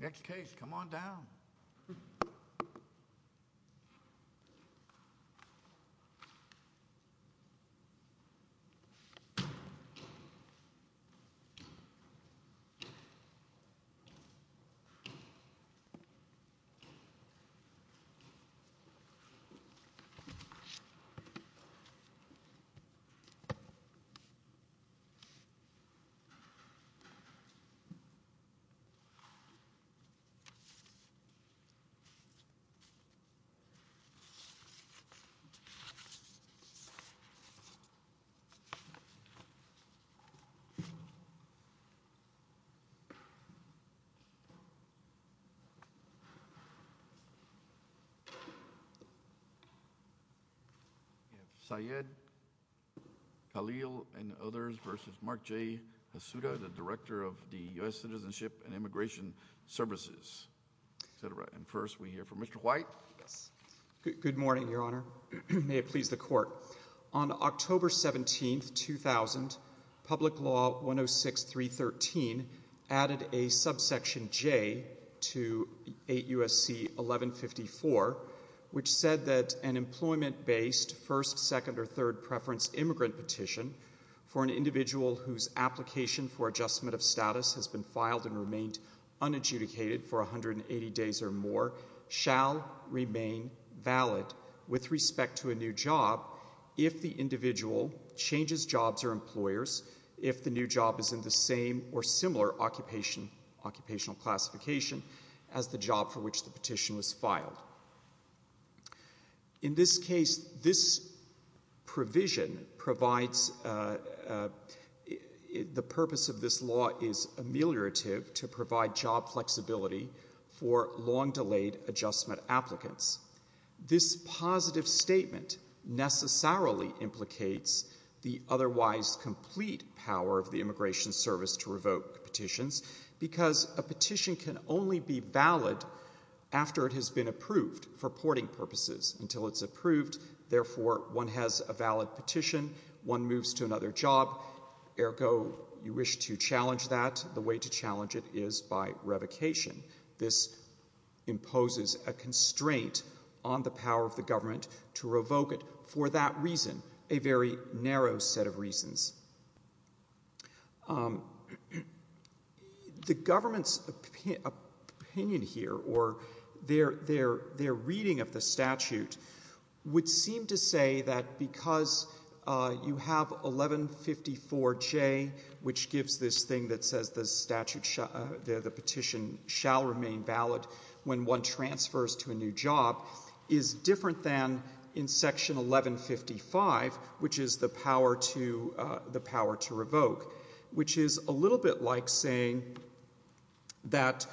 Next case, come on down. Next case, come on down. Syed Khalil and others v. Mark J. Hazuda, the Director of the U.S. Citizenship and Immigration Services, etc. And first we hear from Mr. White. Yes. Good morning, Your Honor. May it please the Court. On October 17, 2000, Public Law 106-313 added a subsection J to 8 U.S.C. 1154, which said that an employment-based first, second, or third preference immigrant petition for an individual whose application for adjustment of status has been filed and remained unadjudicated for 180 days or more shall remain valid with respect to a new job if the individual changes jobs or employers if the new job is in the same or similar occupational classification as the job for which the petition was filed. In this case, this provision provides the purpose of this law is ameliorative to provide job flexibility for long-delayed adjustment applicants. This positive statement necessarily implicates the otherwise complete power of the Immigration Service to revoke petitions because a petition can only be valid after it has been approved for porting purposes. Until it's approved, therefore, one has a valid petition, one moves to another job. Ergo, you wish to challenge that, the way to challenge it is by revocation. This imposes a constraint on the power of the government to revoke it for that reason, a very narrow set of reasons. The government's opinion here or their reading of the statute would seem to say that because you have 1154J, which gives this thing that says the petition shall remain valid when one transfers to a new job, is different than in section 1155, which is the power to revoke, which is a little bit like saying that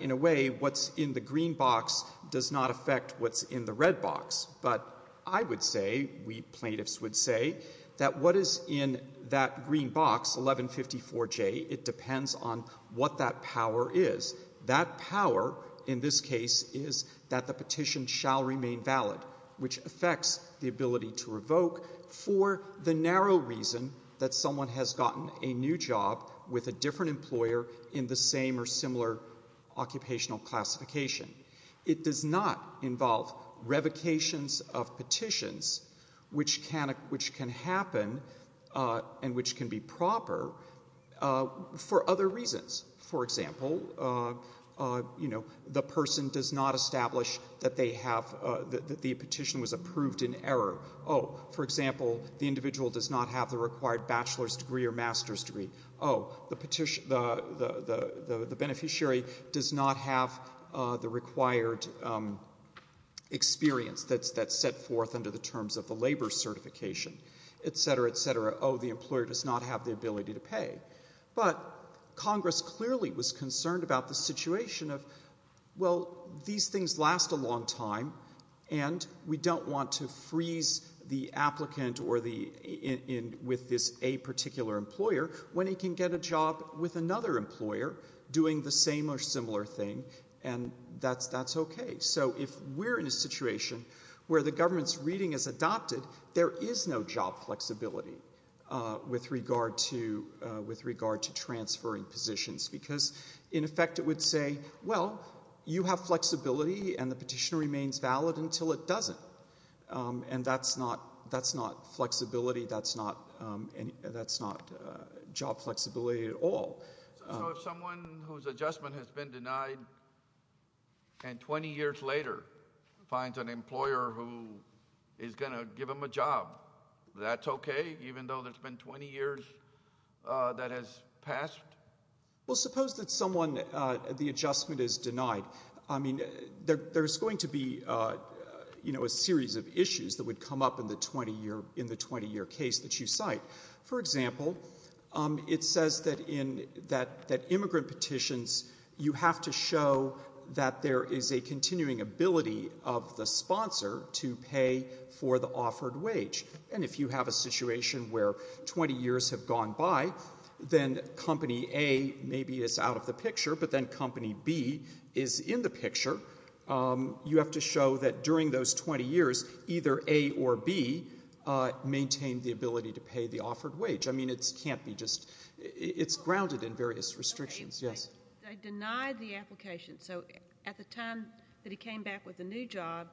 in a way what's in the green box does not affect what's in the red box, but I would say, we plaintiffs would say, that what is in that green box, 1154J, it depends on what that power is. That power, in this case, is that the petition shall remain valid, which affects the ability to revoke for the narrow reason that someone has gotten a new job with a different employer in the same or similar occupational classification. It does not involve revocations of petitions, which can happen and which can be proper, for other reasons. For example, the person does not establish that they have, that the petition was approved in error. Oh, for example, the individual does not have the required bachelor's degree or master's degree. The beneficiary does not have the required experience that's set forth under the terms of the labor certification, et cetera, et cetera. Oh, the employer does not have the ability to pay. But Congress clearly was concerned about the situation of, well, these things last a long time, and we don't want to freeze the applicant or the, with this a particular employer, when he can get a job with another employer doing the same or similar thing, and that's okay. So if we're in a situation where the government's reading is adopted, there is no job flexibility with regard to transferring positions, because, in effect, it would say, well, you have flexibility and the petition remains valid until it doesn't. And that's not flexibility. That's not, that's not job flexibility at all. So if someone whose adjustment has been denied and 20 years later finds an employer who is going to give him a job, that's okay, even though there's been 20 years that has passed? Well, suppose that someone, the adjustment is denied. I mean, there's going to be, you know, a series of issues that would come up in the 20-year, in the 20-year case that you cite. For example, it says that in, that immigrant petitions, you have to show that there is a continuing ability of the sponsor to pay for the offered wage. And if you have a situation where 20 years have gone by, then Company A maybe is out of the picture, but then Company B is in the picture. You have to show that during those 20 years, either A or B maintained the ability to pay the offered wage. I mean, it can't be just, it's grounded in various restrictions. Yes? They denied the application. So at the time that he came back with a new job,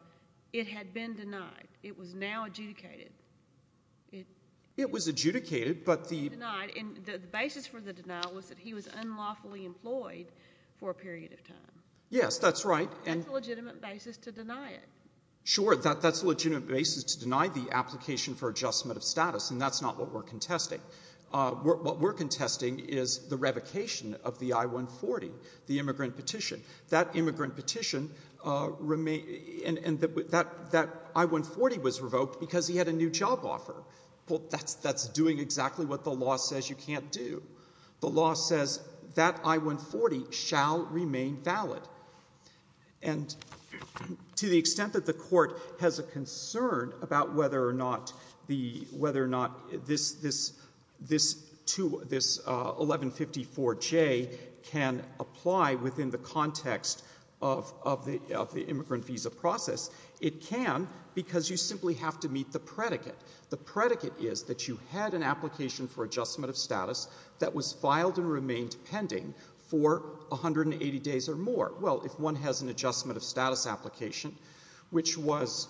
it had been denied. It was now adjudicated. It was adjudicated, but the basis for the denial was that he was unlawfully employed for a period of time. Yes, that's right. That's a legitimate basis to deny it. Sure, that's a legitimate basis to deny the application for adjustment of status, and that's not what we're contesting. What we're contesting is the revocation of the I-140, the immigrant petition. That immigrant petition, and that I-140 was revoked because he had a new job offer. Well, that's doing exactly what the law says you can't do. The law says that I-140 shall remain valid. And to the extent that the court has a concern about whether or not this 1154J can apply within the context of the immigrant visa process, it can because you simply have to meet the predicate. The predicate is that you had an application for adjustment of status that was filed and remained pending for 180 days or more. Well, if one has an adjustment of status application, which was,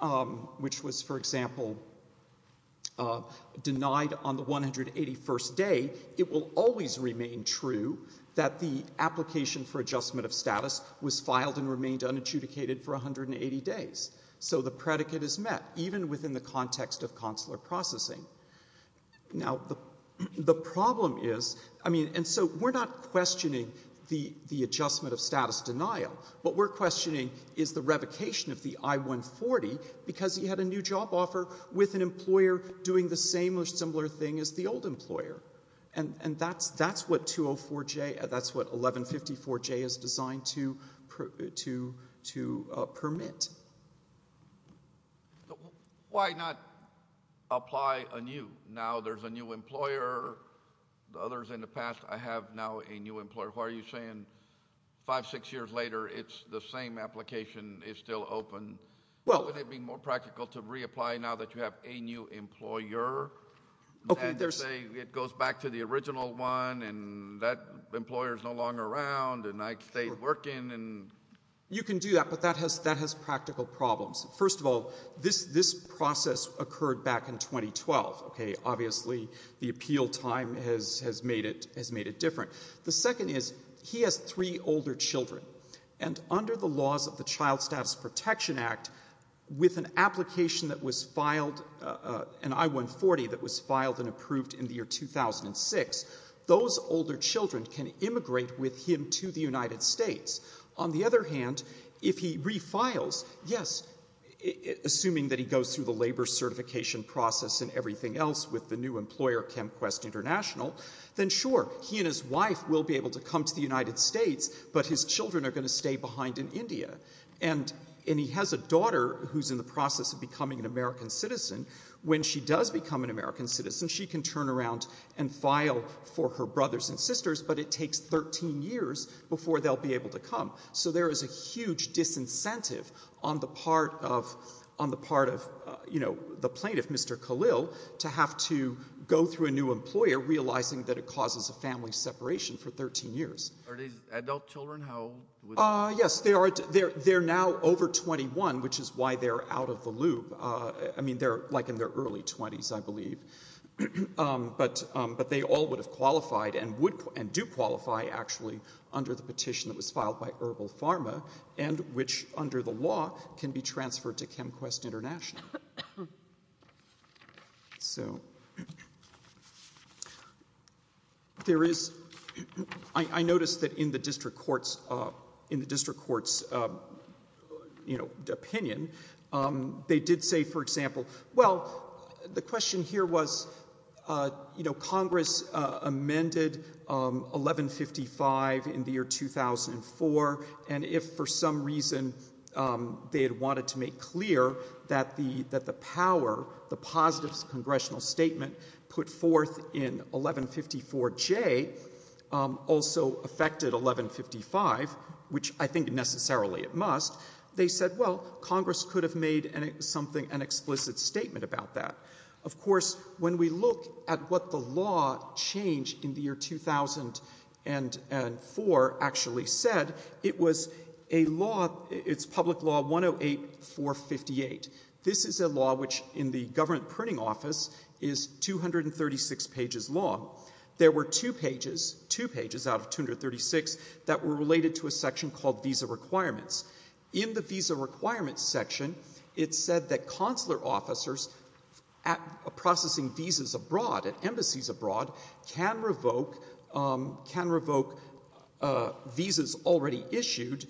for example, denied on the 181st day, it will always remain true that the application for adjustment of status was filed and remained unadjudicated for 180 days. So the predicate is met, even within the context of consular processing. Now, the problem is, I mean, and so we're not questioning the adjustment of status denial. What we're questioning is the revocation of the I-140 because he had a new job offer with an employer doing the same or similar thing as the old employer. And that's what 204J, that's what 1154J is designed to permit. Why not apply a new? Now there's a new employer. The others in the past, I have now a new employer. Why are you saying five, six years later, it's the same application is still open? Well, would it be more practical to reapply now that you have a new employer? And say it goes back to the original one and that employer is no longer around and I stayed working and... You can do that, but that has practical problems. First of all, this process occurred back in 2012, OK? Obviously, the appeal time has made it different. The second is, he has three older children. And under the laws of the Child Status Protection Act, with an application that was filed, an I-140 that was filed and approved in the year 2006, those older children can immigrate with him to the United States. On the other hand, if he refiles, yes, assuming that he goes through the labour certification process and everything else with the new employer, ChemQuest International, then sure, he and his wife will be able to come to the United States, but his children are going to stay behind in India. And he has a daughter who's in the process of becoming an American citizen. When she does become an American citizen, she can turn around and file for her brothers and sisters, but it takes 13 years before they'll be able to come. So there is a huge disincentive on the part of, you know, the plaintiff, Mr Khalil, to have to go through a new employer, realising that it causes a family separation for 13 years. Are these adult children? How old would they be? Yes, they're now over 21, which is why they're out of the loop. I mean, they're like in their early 20s, I believe. But they all would have qualified and do qualify, actually, under the petition that was filed by Herbal Pharma, and which, under the law, can be transferred to ChemQuest International. So there is... I noticed that in the district court's, you know, opinion, they did say, for example, well, the question here was, you know, Congress amended 1155 in the year 2004, and if for some reason they had wanted to make clear that the power, the positive congressional statement put forth in 1154J also affected 1155, which I think necessarily it must, they said, well, Congress could have made something, an explicit statement about that. Of course, when we look at what the law changed in the year 2004 actually said, it was a law, it's public law 108458. This is a law which, in the government printing office, is 236 pages long. There were two pages, two pages out of 236, that were related to a section called visa requirements. In the visa requirements section, it said that consular officers processing visas abroad, at embassies abroad, can revoke visas already issued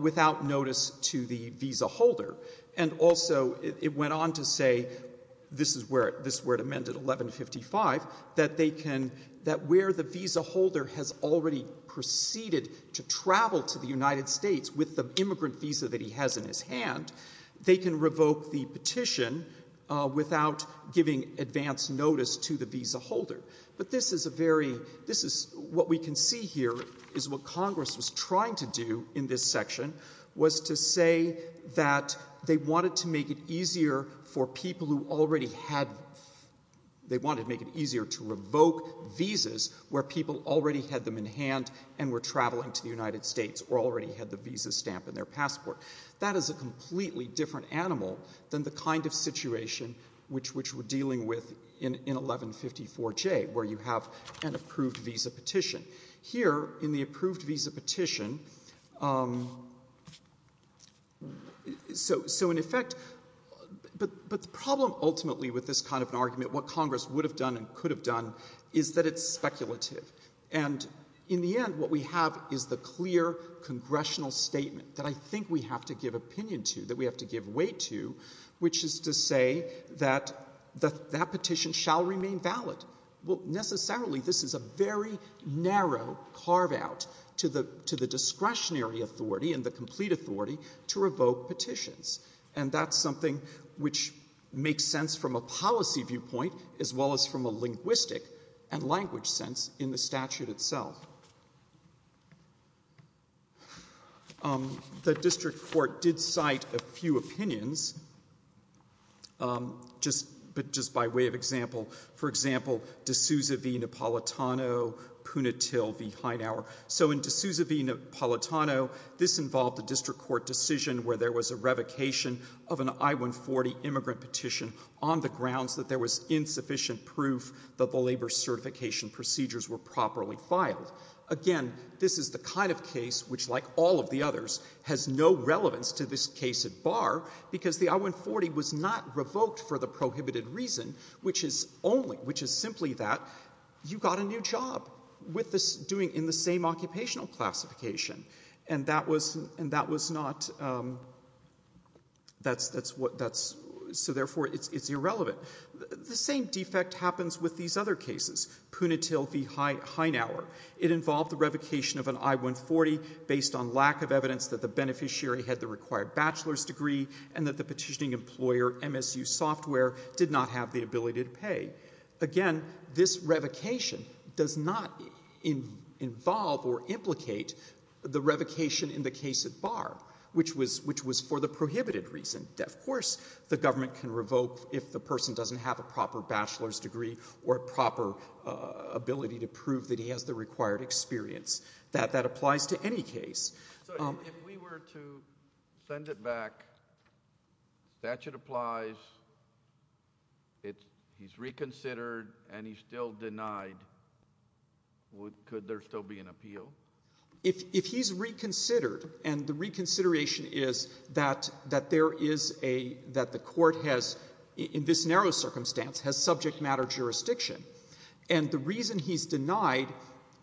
without notice to the visa holder. And also, it went on to say, this is where it amended 1155, that they can, that where the visa holder has already proceeded to travel to the United States with the immigrant visa that he has in his hand, they can revoke the petition without giving advance notice to the visa holder. But this is a very, this is, what we can see here is what Congress was trying to do in this section was to say that they wanted to make it easier for people who already had, they wanted to make it easier to revoke visas where people already had them in hand and were traveling to the United States or already had the visa stamp in their passport. That is a completely different animal than the kind of situation which we're dealing with in 1154J, where you have an approved visa petition. Here, in the approved visa petition, so in effect, but the problem ultimately with this kind of an argument, what Congress would have done and could have done is that it's speculative. And in the end, what we have is the clear congressional statement that I think we have to give opinion to, that we have to give weight to, which is to say that that petition shall remain valid. Well, necessarily, this is a very narrow carve out to the discretionary authority and the complete authority to revoke petitions. And that's something which makes sense from a policy viewpoint as well as from a linguistic and language sense in the statute itself. The district court did cite a few opinions, but just by way of example. For example, D'Souza v. Napolitano, Punitil v. Hightower. So in D'Souza v. Napolitano, this involved the district court decision where there was a revocation of an I-140 immigrant petition on the grounds that there was insufficient proof that the labor certification procedures were properly filed. Again, this is the kind of case which, like all of the others, has no relevance to this case at bar because the I-140 was not revoked for the prohibited reason, which is only, which is simply that you got a new job with this doing in the same occupational classification. And that was not, that's, so therefore, it's irrelevant. The same defect happens with these other cases, Punitil v. Hightower. It involved the revocation of an I-140 based on lack of evidence that the beneficiary had the required bachelor's degree and that the petitioning employer, MSU Software, did not have the ability to pay. Again, this revocation does not involve or implicate the revocation in the case at bar, which was for the prohibited reason. Of course, the government can revoke if the person doesn't have a proper bachelor's degree or a proper ability to prove that he has the required experience. That applies to any case. So if we were to send it back, statute applies, it's, he's reconsidered, and he's still denied, would, could there still be an appeal? If he's reconsidered, and the reconsideration is that there is a, that the court has, in this narrow circumstance, has subject matter jurisdiction. And the reason he's denied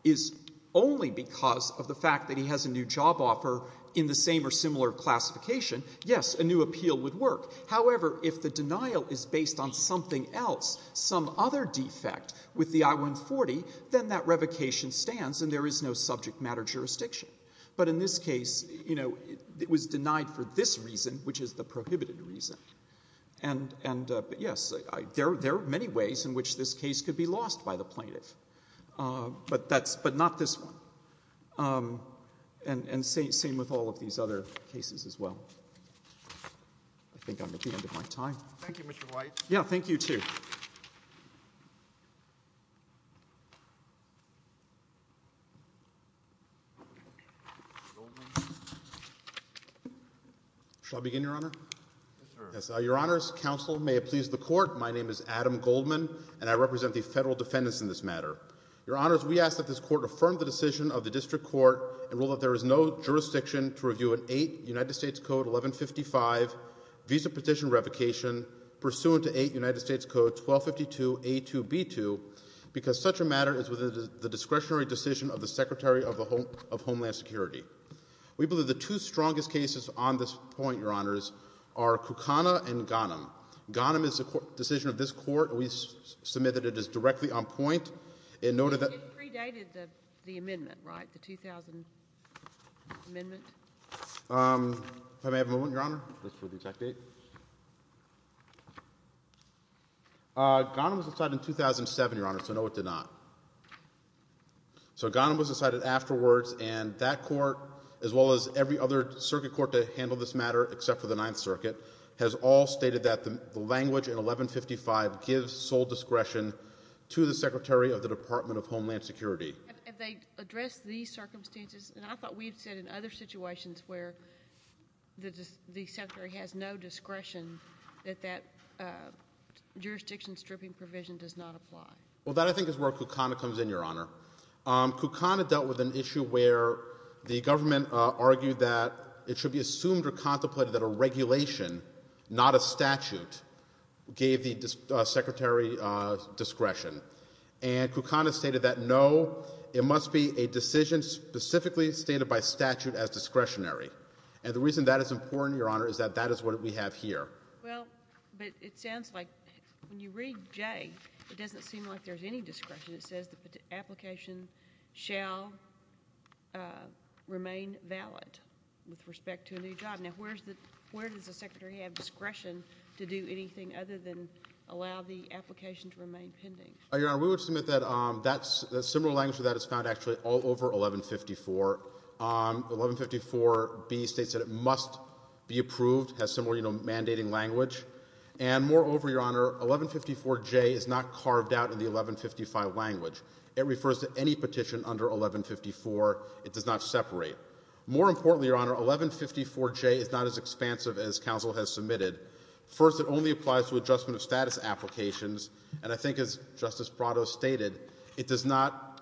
is only because of the fact that he has a new job offer in the same or similar classification, yes, a new appeal would work. However, if the denial is based on something else, some other defect with the I-140, then that revocation stands and there is no subject matter jurisdiction. But in this case, you know, it was denied for this reason, which is the prohibited reason. And, and, but yes, there, there are many ways in which this case could be lost by the plaintiff. But that's, but not this one. And, and same, same with all of these other cases as well. I think I'm at the end of my time. Thank you, Mr. White. Yeah, thank you, too. Shall I begin, Your Honor? Yes, sir. Yes, Your Honors, counsel, may it please the court. My name is Adam Goldman, and I represent the federal defendants in this matter. Your Honors, we ask that this court affirm the decision of the district court and rule that there is no jurisdiction to review an 8 United States Code 1155 visa petition revocation pursuant to 8 United States Code 1252A2B2 because such a matter is within the discretionary decision of the Secretary of the Home, of Homeland Security. We believe the two strongest cases on this point, Your Honors, are Kukana and Ghanem. Ghanem is a court, decision of this court. We submitted it as directly on point. It noted that. It predated the, the amendment, right? The 2000 amendment? If I may have a moment, Your Honor. Just for the exact date. Ghanem was decided in 2007, Your Honor, so no, it did not. So, Ghanem was decided afterwards, and that court, as well as every other circuit court that handled this matter, except for the Ninth Circuit, has all stated that the, the language in 1155 gives sole discretion to the Secretary of the Department of Homeland Security. Have they addressed these circumstances? And I thought we had said in other situations where the, the Secretary has no discretion that that jurisdiction stripping provision does not apply. Well, that I think is where Kukana comes in, Your Honor. Kukana dealt with an issue where the government argued that it should be assumed or contemplated that a regulation, not a statute, gave the secretary discretion. And Kukana stated that no, it must be a decision specifically stated by statute as discretionary, and the reason that is important, Your Honor, is that that is what we have here. Well, but it sounds like, when you read J, it doesn't seem like there's any discretion, it says the application shall remain valid with respect to a new job. Now, where's the, where does the secretary have discretion to do anything other than allow the application to remain pending? Your Honor, we would submit that that's, that similar language to that is found actually all over 1154, 1154B states that it must be approved, has similar, you know, language, and moreover, Your Honor, 1154J is not carved out in the 1155 language. It refers to any petition under 1154. It does not separate. More importantly, Your Honor, 1154J is not as expansive as counsel has submitted. First, it only applies to adjustment of status applications, and I think as Justice Brotto stated, it does not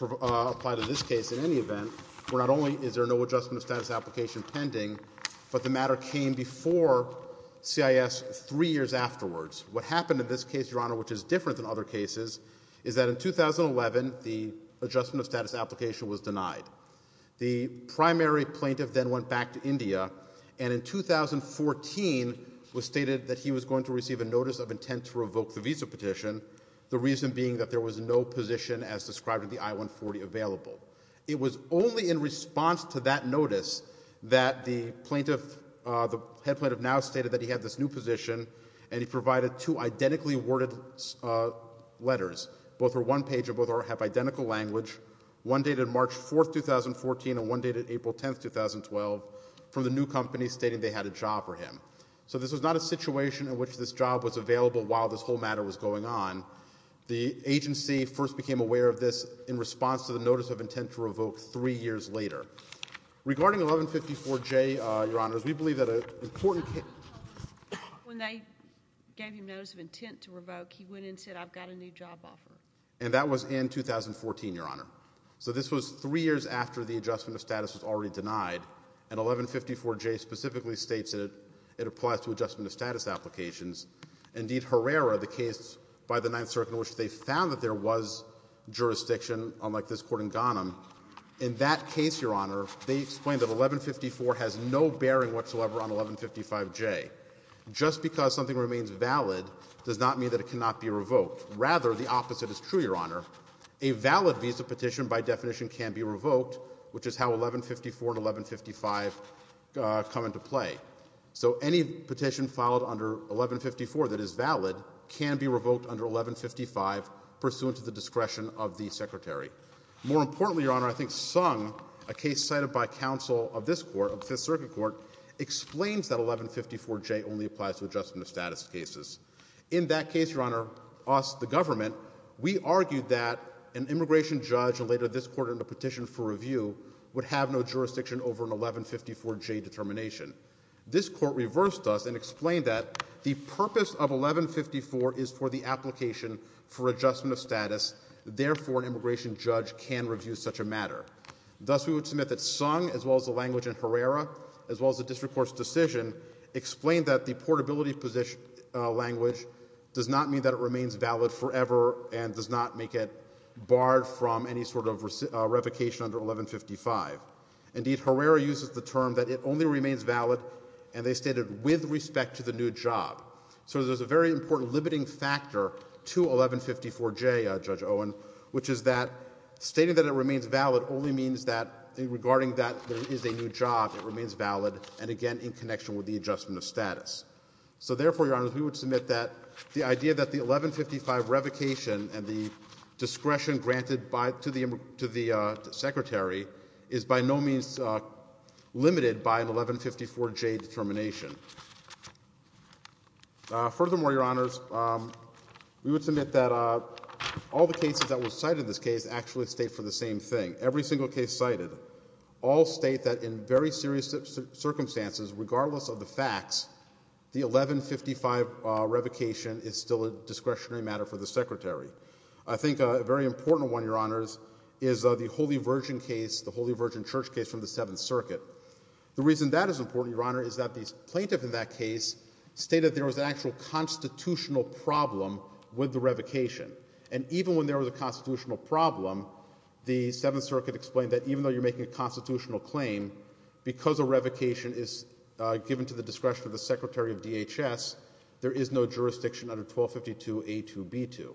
apply to this case in any event, where not only is there no adjustment of status application pending, but the matter came before CIS three years afterwards. What happened in this case, Your Honor, which is different than other cases, is that in 2011, the adjustment of status application was denied. The primary plaintiff then went back to India, and in 2014, was stated that he was going to receive a notice of intent to revoke the visa petition, the reason being that there was no position as described in the I-140 available. It was only in response to that notice that the plaintiff, the head plaintiff now stated that he had this new position, and he provided two identically worded letters. Both were one page, and both have identical language. One dated March 4, 2014, and one dated April 10, 2012, from the new company stating they had a job for him. So this was not a situation in which this job was available while this whole matter was going on. The agency first became aware of this in response to the notice of intent to revoke three years later. Regarding 1154J, Your Honor, we believe that an important case... When they gave him notice of intent to revoke, he went and said, I've got a new job offer. And that was in 2014, Your Honor. So this was three years after the adjustment of status was already denied, and 1154J specifically states that it applies to adjustment of status applications. Indeed, Herrera, the case by the Ninth Circuit in which they found that there was jurisdiction, unlike this court in Ghanem, in that case, Your Honor, they explained that 1154 has no bearing whatsoever on 1155J. Just because something remains valid does not mean that it cannot be revoked. Rather, the opposite is true, Your Honor. A valid visa petition, by definition, can be revoked, which is how 1154 and 1155 come into play. So any petition filed under 1154 that is valid can be revoked under 1155 pursuant to the discretion of the Secretary. More importantly, Your Honor, I think Sung, a case cited by counsel of this court, of Fifth Circuit Court, explains that 1154J only applies to adjustment of status cases. In that case, Your Honor, us, the government, we argued that an immigration judge, and later this court, in a petition for review, would have no jurisdiction over an 1154J determination. This court reversed us and explained that the purpose of 1154 is for the application for adjustment of status, therefore, an immigration judge can review such a matter. Thus, we would submit that Sung, as well as the language in Herrera, as well as the District Court's decision, explained that the portability language does not mean that it remains valid forever and does not make it barred from any sort of revocation under 1155. Indeed, Herrera uses the term that it only remains valid, and they stated, with respect to the new job. So there's a very important limiting factor to 1154J, Judge Owen, which is that stating that it remains valid only means that, regarding that there is a new job, it remains valid, and again, in connection with the adjustment of status. So therefore, Your Honors, we would submit that the idea that the 1155 revocation and the discretion granted to the Secretary is by no means limited by an 1154J determination. Furthermore, Your Honors, we would submit that all the cases that were cited in this case actually state for the same thing. Every single case cited all state that in very serious circumstances, regardless of the facts, the 1155 revocation is still a discretionary matter for the Secretary. I think a very important one, Your Honors, is the Holy Virgin case, the Holy Virgin Church case from the Seventh Circuit. The reason that is important, Your Honor, is that the plaintiff in that case stated there was an actual constitutional problem with the revocation. And even when there was a constitutional problem, the Seventh Circuit explained that even though you're making a constitutional claim, because a revocation is given to the discretion of the Secretary of DHS, there is no jurisdiction under 1252A2B2.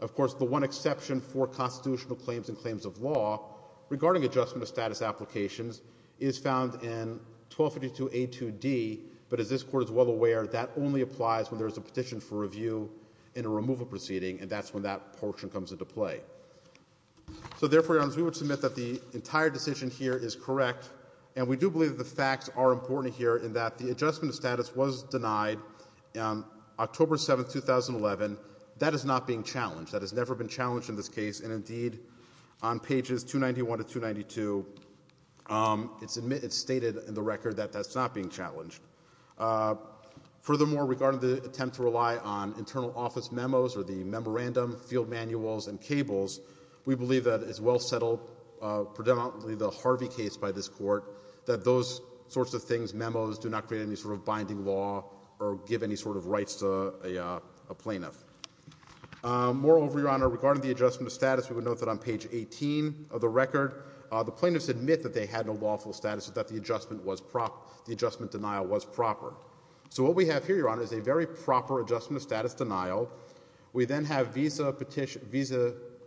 Of course, the one exception for constitutional claims and claims of law regarding adjustment of status applications is found in 1252A2D, but as this Court is well aware, that only applies when there is a petition for review and a removal proceeding, and that's when that portion comes into play. So therefore, Your Honors, we would submit that the entire decision here is correct, and we do believe that the facts are important here in that the adjustment of status was denied on October 7, 2011. That is not being challenged. That has never been challenged in this case, and indeed, on pages 291 to 292, it's stated in the record that that's not being challenged. Furthermore, regarding the attempt to rely on internal office memos or the memorandum, field manuals, and cables, we believe that it's well settled, predominantly the Harvey case by this Court, that those sorts of things, memos, do not create any sort of binding law or give any sort of rights to a plaintiff. Moreover, Your Honor, regarding the adjustment of status, we would note that on page 18 of the record, the plaintiffs admit that they had no lawful status, that the adjustment was proper, the adjustment denial was proper. So what we have here, Your Honor, is a very proper adjustment of status denial. We then have visa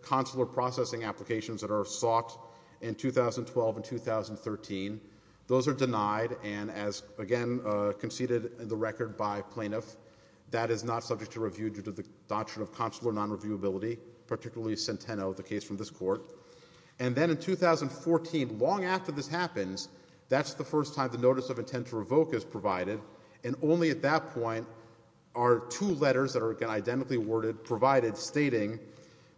consular processing applications that are sought in 2012 and 2013. Those are denied, and as, again, conceded in the record by plaintiff, that is not subject to review due to the doctrine of consular non-reviewability, particularly Centeno, the case from this Court. And then in 2014, long after this happens, that's the first time the notice of intent to revoke is provided, and only at that point are two letters that are, again, identically worded, provided, stating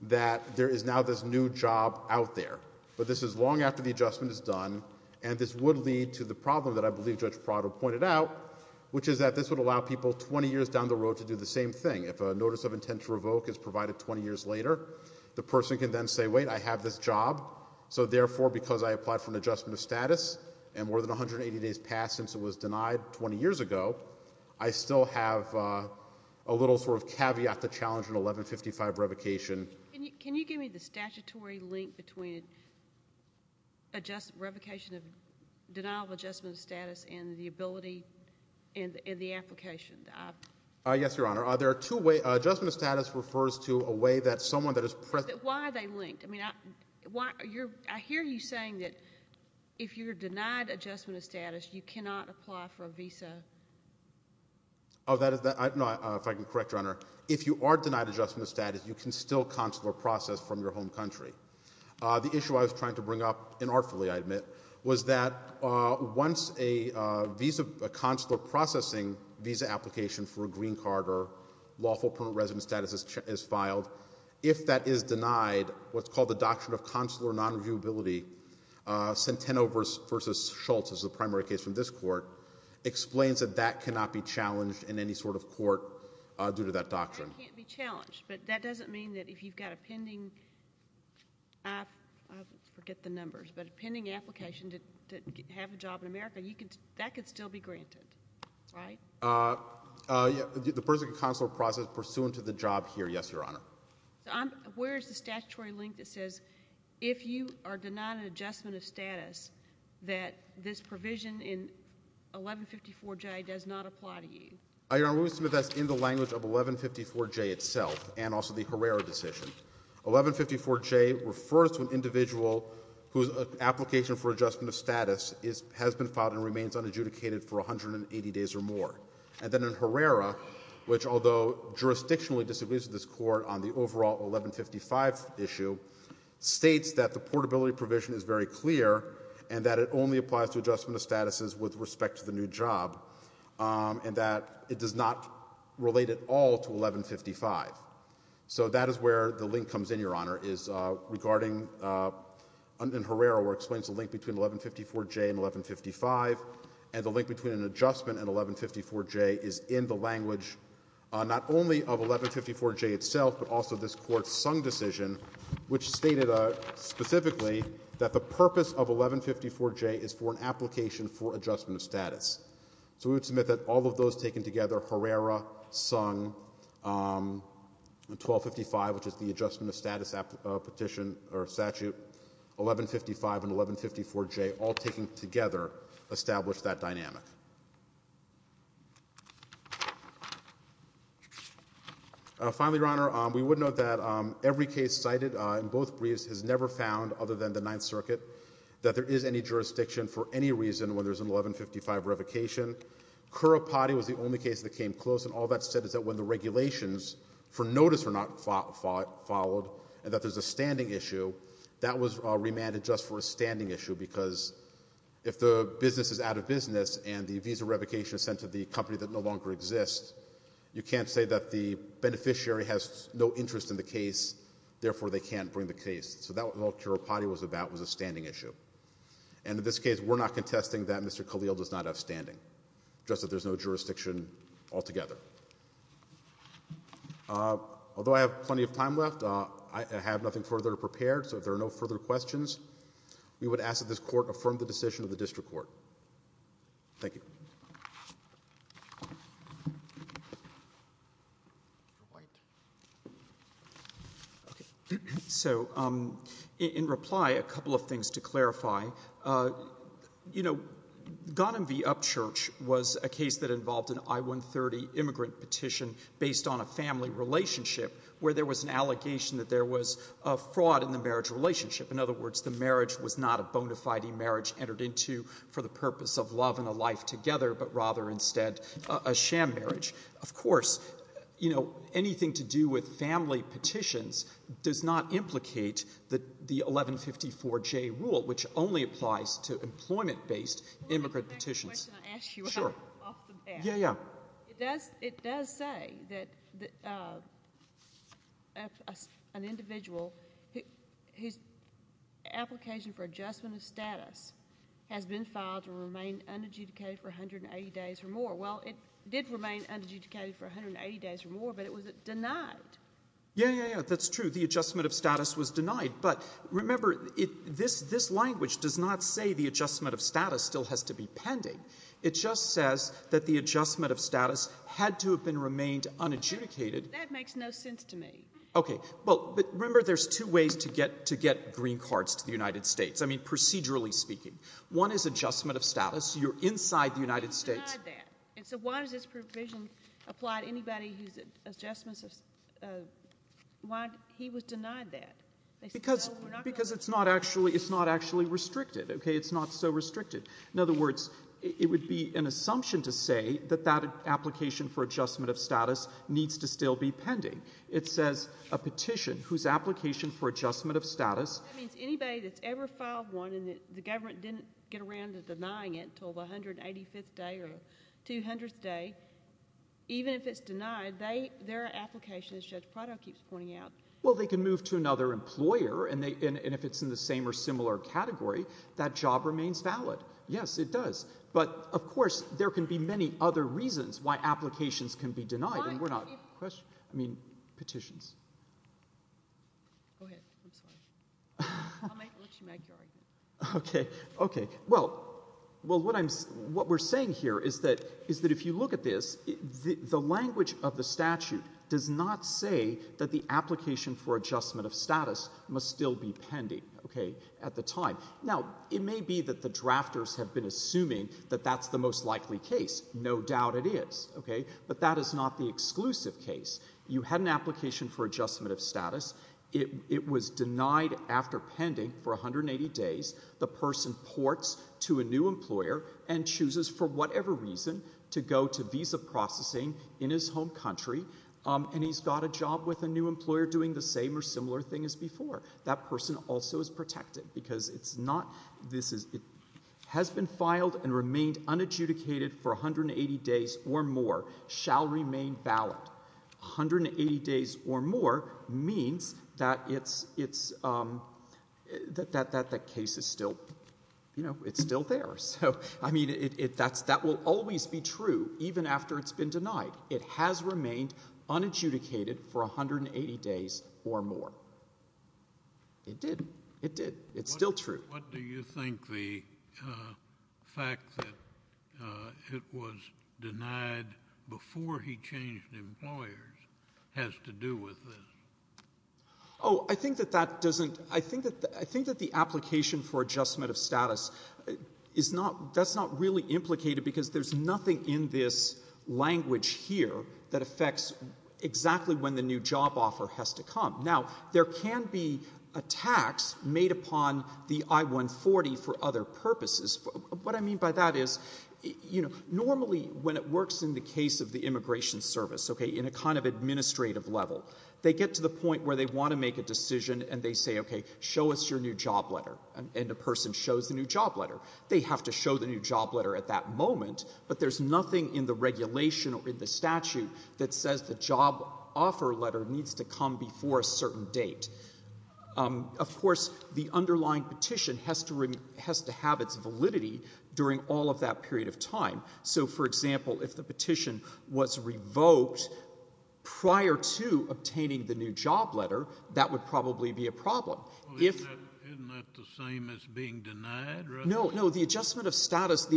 that there is now this new job out there. But this is long after the adjustment is done, and this would lead to the problem that I believe Judge Prado pointed out, which is that this would allow people 20 years down the road to do the same thing. If a notice of intent to revoke is provided 20 years later, the person can then say, wait, I have this job, so therefore, because I applied for an adjustment of status, and more than 180 days passed since it was denied 20 years ago, I still have a little sort of caveat to challenge an 1155 revocation. Can you give me the statutory link between revocation of denial of adjustment of status and the ability in the application? Yes, Your Honor. There are two ways. Adjustment of status refers to a way that someone that is present. Why are they linked? I mean, I hear you saying that if you're denied adjustment of status, you cannot apply for a visa. If I can correct, Your Honor, if you are denied adjustment of status, you can still consular process from your home country. The issue I was trying to bring up, and artfully, I admit, was that once a consular processing visa application for a green card or lawful permanent resident status is filed, if that is denied, what's called the Doctrine of Consular Non-Reviewability, Centeno v. Schultz is the primary case from this court, explains that that cannot be challenged in any sort of court due to that doctrine. It can't be challenged, but that doesn't mean that if you've got a pending, I forget the numbers, but a pending application to have a job in America, that could still be granted, right? The person can consular process pursuant to the job here, yes, Your Honor. So I'm, where is the statutory link that says if you are denied an adjustment of status that this provision in 1154J does not apply to you? Your Honor, we would submit that's in the language of 1154J itself, and also the Herrera decision. 1154J refers to an individual whose application for adjustment of status has been filed and remains unadjudicated for 180 days or more, and then in Herrera, which although jurisdictionally disagrees with this Court on the overall 1155 issue, states that the portability provision is very clear, and that it only applies to adjustment of statuses with respect to the new job, and that it does not relate at all to 1155. So that is where the link comes in, Your Honor, is regarding, in Herrera where it explains the link between 1154J and 1155, and the link between an adjustment and 1154J is in the 1154J itself, but also this Court's Sung decision, which stated specifically that the purpose of 1154J is for an application for adjustment of status. So we would submit that all of those taken together, Herrera, Sung, 1255, which is the adjustment of status petition or statute, 1155, and 1154J, all taken together establish that dynamic. Finally, Your Honor, we would note that every case cited in both briefs has never found, other than the Ninth Circuit, that there is any jurisdiction for any reason when there is an 1155 revocation. Currapati was the only case that came close, and all that said is that when the regulations for notice were not followed, and that there is a standing issue, that was remanded just for a standing issue, because if the business is out of business and the visa revocation is sent to the company that no longer exists, you can't say that the beneficiary has no interest in the case, therefore they can't bring the case. So that's what all Currapati was about, was a standing issue. And in this case, we're not contesting that Mr. Khalil does not have standing, just that there's no jurisdiction altogether. Although I have plenty of time left, I have nothing further to prepare, so if there are no further questions, we would ask that this Court affirm the decision of the District Court. Thank you. So in reply, a couple of things to clarify. You know, Ghanem v. Upchurch was a case that involved an I-130 immigrant petition based on a family relationship where there was an allegation that there was a fraud in the marriage relationship. In other words, the marriage was not a bona fide marriage entered into for the purpose of love and a life together, but rather instead a sham marriage. Of course, you know, anything to do with family petitions does not implicate the 1154J rule, which only applies to employment-based immigrant petitions. The question I asked you off the bat, it does say that an individual whose application for adjustment of status has been filed to remain unadjudicated for 180 days or more. Well, it did remain unadjudicated for 180 days or more, but it was denied. Yeah, yeah, yeah, that's true. The adjustment of status was denied, but remember, this language does not say the adjustment of status still has to be pending. It just says that the adjustment of status had to have been remained unadjudicated. That makes no sense to me. Okay. But remember, there's two ways to get green cards to the United States, I mean, procedurally speaking. One is adjustment of status. You're inside the United States. Why was it denied that? And so why does this provision apply to anybody whose adjustments, why he was denied that? Because it's not actually restricted, okay? It's not so restricted. In other words, it would be an assumption to say that that application for adjustment of status needs to still be pending. It says a petition whose application for adjustment of status. That means anybody that's ever filed one and the government didn't get around to denying it until the 185th day or 200th day, even if it's denied, their application, as Judge Prado keeps pointing out. Well, they can move to another employer, and if it's in the same or similar category, that job remains valid. Yes, it does. But, of course, there can be many other reasons why applications can be denied, and we're not... I mean, petitions. Go ahead. I'm sorry. I'll let you make your argument. Okay. Okay. Well, what we're saying here is that if you look at this, the language of the statute does not say that the application for adjustment of status must still be pending, okay, at the time. Now, it may be that the drafters have been assuming that that's the most likely case. No doubt it is, okay, but that is not the exclusive case. You had an application for adjustment of status. It was denied after pending for 180 days. The person ports to a new employer and chooses, for whatever reason, to go to visa processing in his home country, and he's got a job with a new employer doing the same or similar thing as before. That person also is protected, because it's not... This is... It has been filed and remained unadjudicated for 180 days or more, shall remain valid. 180 days or more means that it's... That case is still... It's still there. So, I mean, that will always be true, even after it's been denied. It has remained unadjudicated for 180 days or more. It did. It did. It's still true. What do you think the fact that it was denied before he changed employers has to do with this? Oh, I think that that doesn't... I think that... I think that the application for adjustment of status is not... It's not a change here that affects exactly when the new job offer has to come. Now, there can be a tax made upon the I-140 for other purposes. What I mean by that is, you know, normally, when it works in the case of the immigration service, OK, in a kind of administrative level, they get to the point where they want to make a decision, and they say, OK, show us your new job letter, and the person shows the new job letter. They have to show the new job letter at that moment, but there's nothing in the regulation or in the statute that says the job offer letter needs to come before a certain date. Of course, the underlying petition has to have its validity during all of that period of time. So, for example, if the petition was revoked prior to obtaining the new job letter, that would probably be a problem. Well, isn't that the same as being denied? No, no. The adjustment of status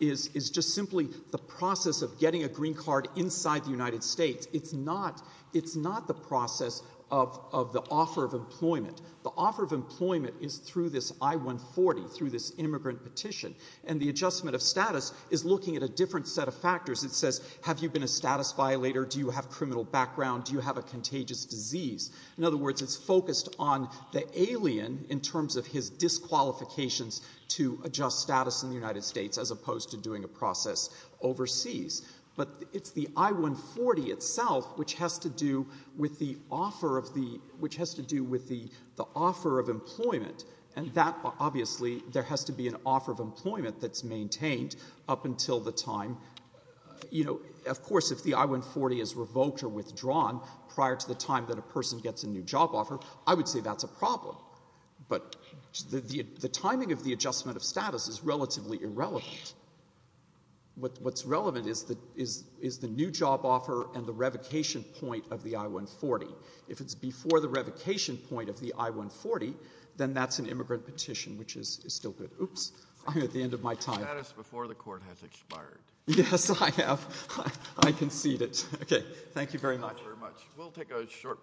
is just simply the process of getting a green card inside the United States. It's not the process of the offer of employment. The offer of employment is through this I-140, through this immigrant petition, and the adjustment of status is looking at a different set of factors. It says, have you been a status violator, do you have criminal background, do you have a contagious disease? In other words, it's focused on the alien in terms of his disqualifications to adjust status in the United States as opposed to doing a process overseas. But it's the I-140 itself which has to do with the offer of the, which has to do with the offer of employment, and that, obviously, there has to be an offer of employment that's maintained up until the time, you know, of course, if the I-140 is revoked or withdrawn prior to the time that a person gets a new job offer, I would say that's a problem. But the timing of the adjustment of status is relatively irrelevant. What's relevant is the new job offer and the revocation point of the I-140. If it's before the revocation point of the I-140, then that's an immigrant petition, which is still good. Oops. I'm at the end of my time. The status before the Court has expired. Yes, I have. I concede it. Okay. Thank you very much. Thank you. Thank you very much. We'll take a short break.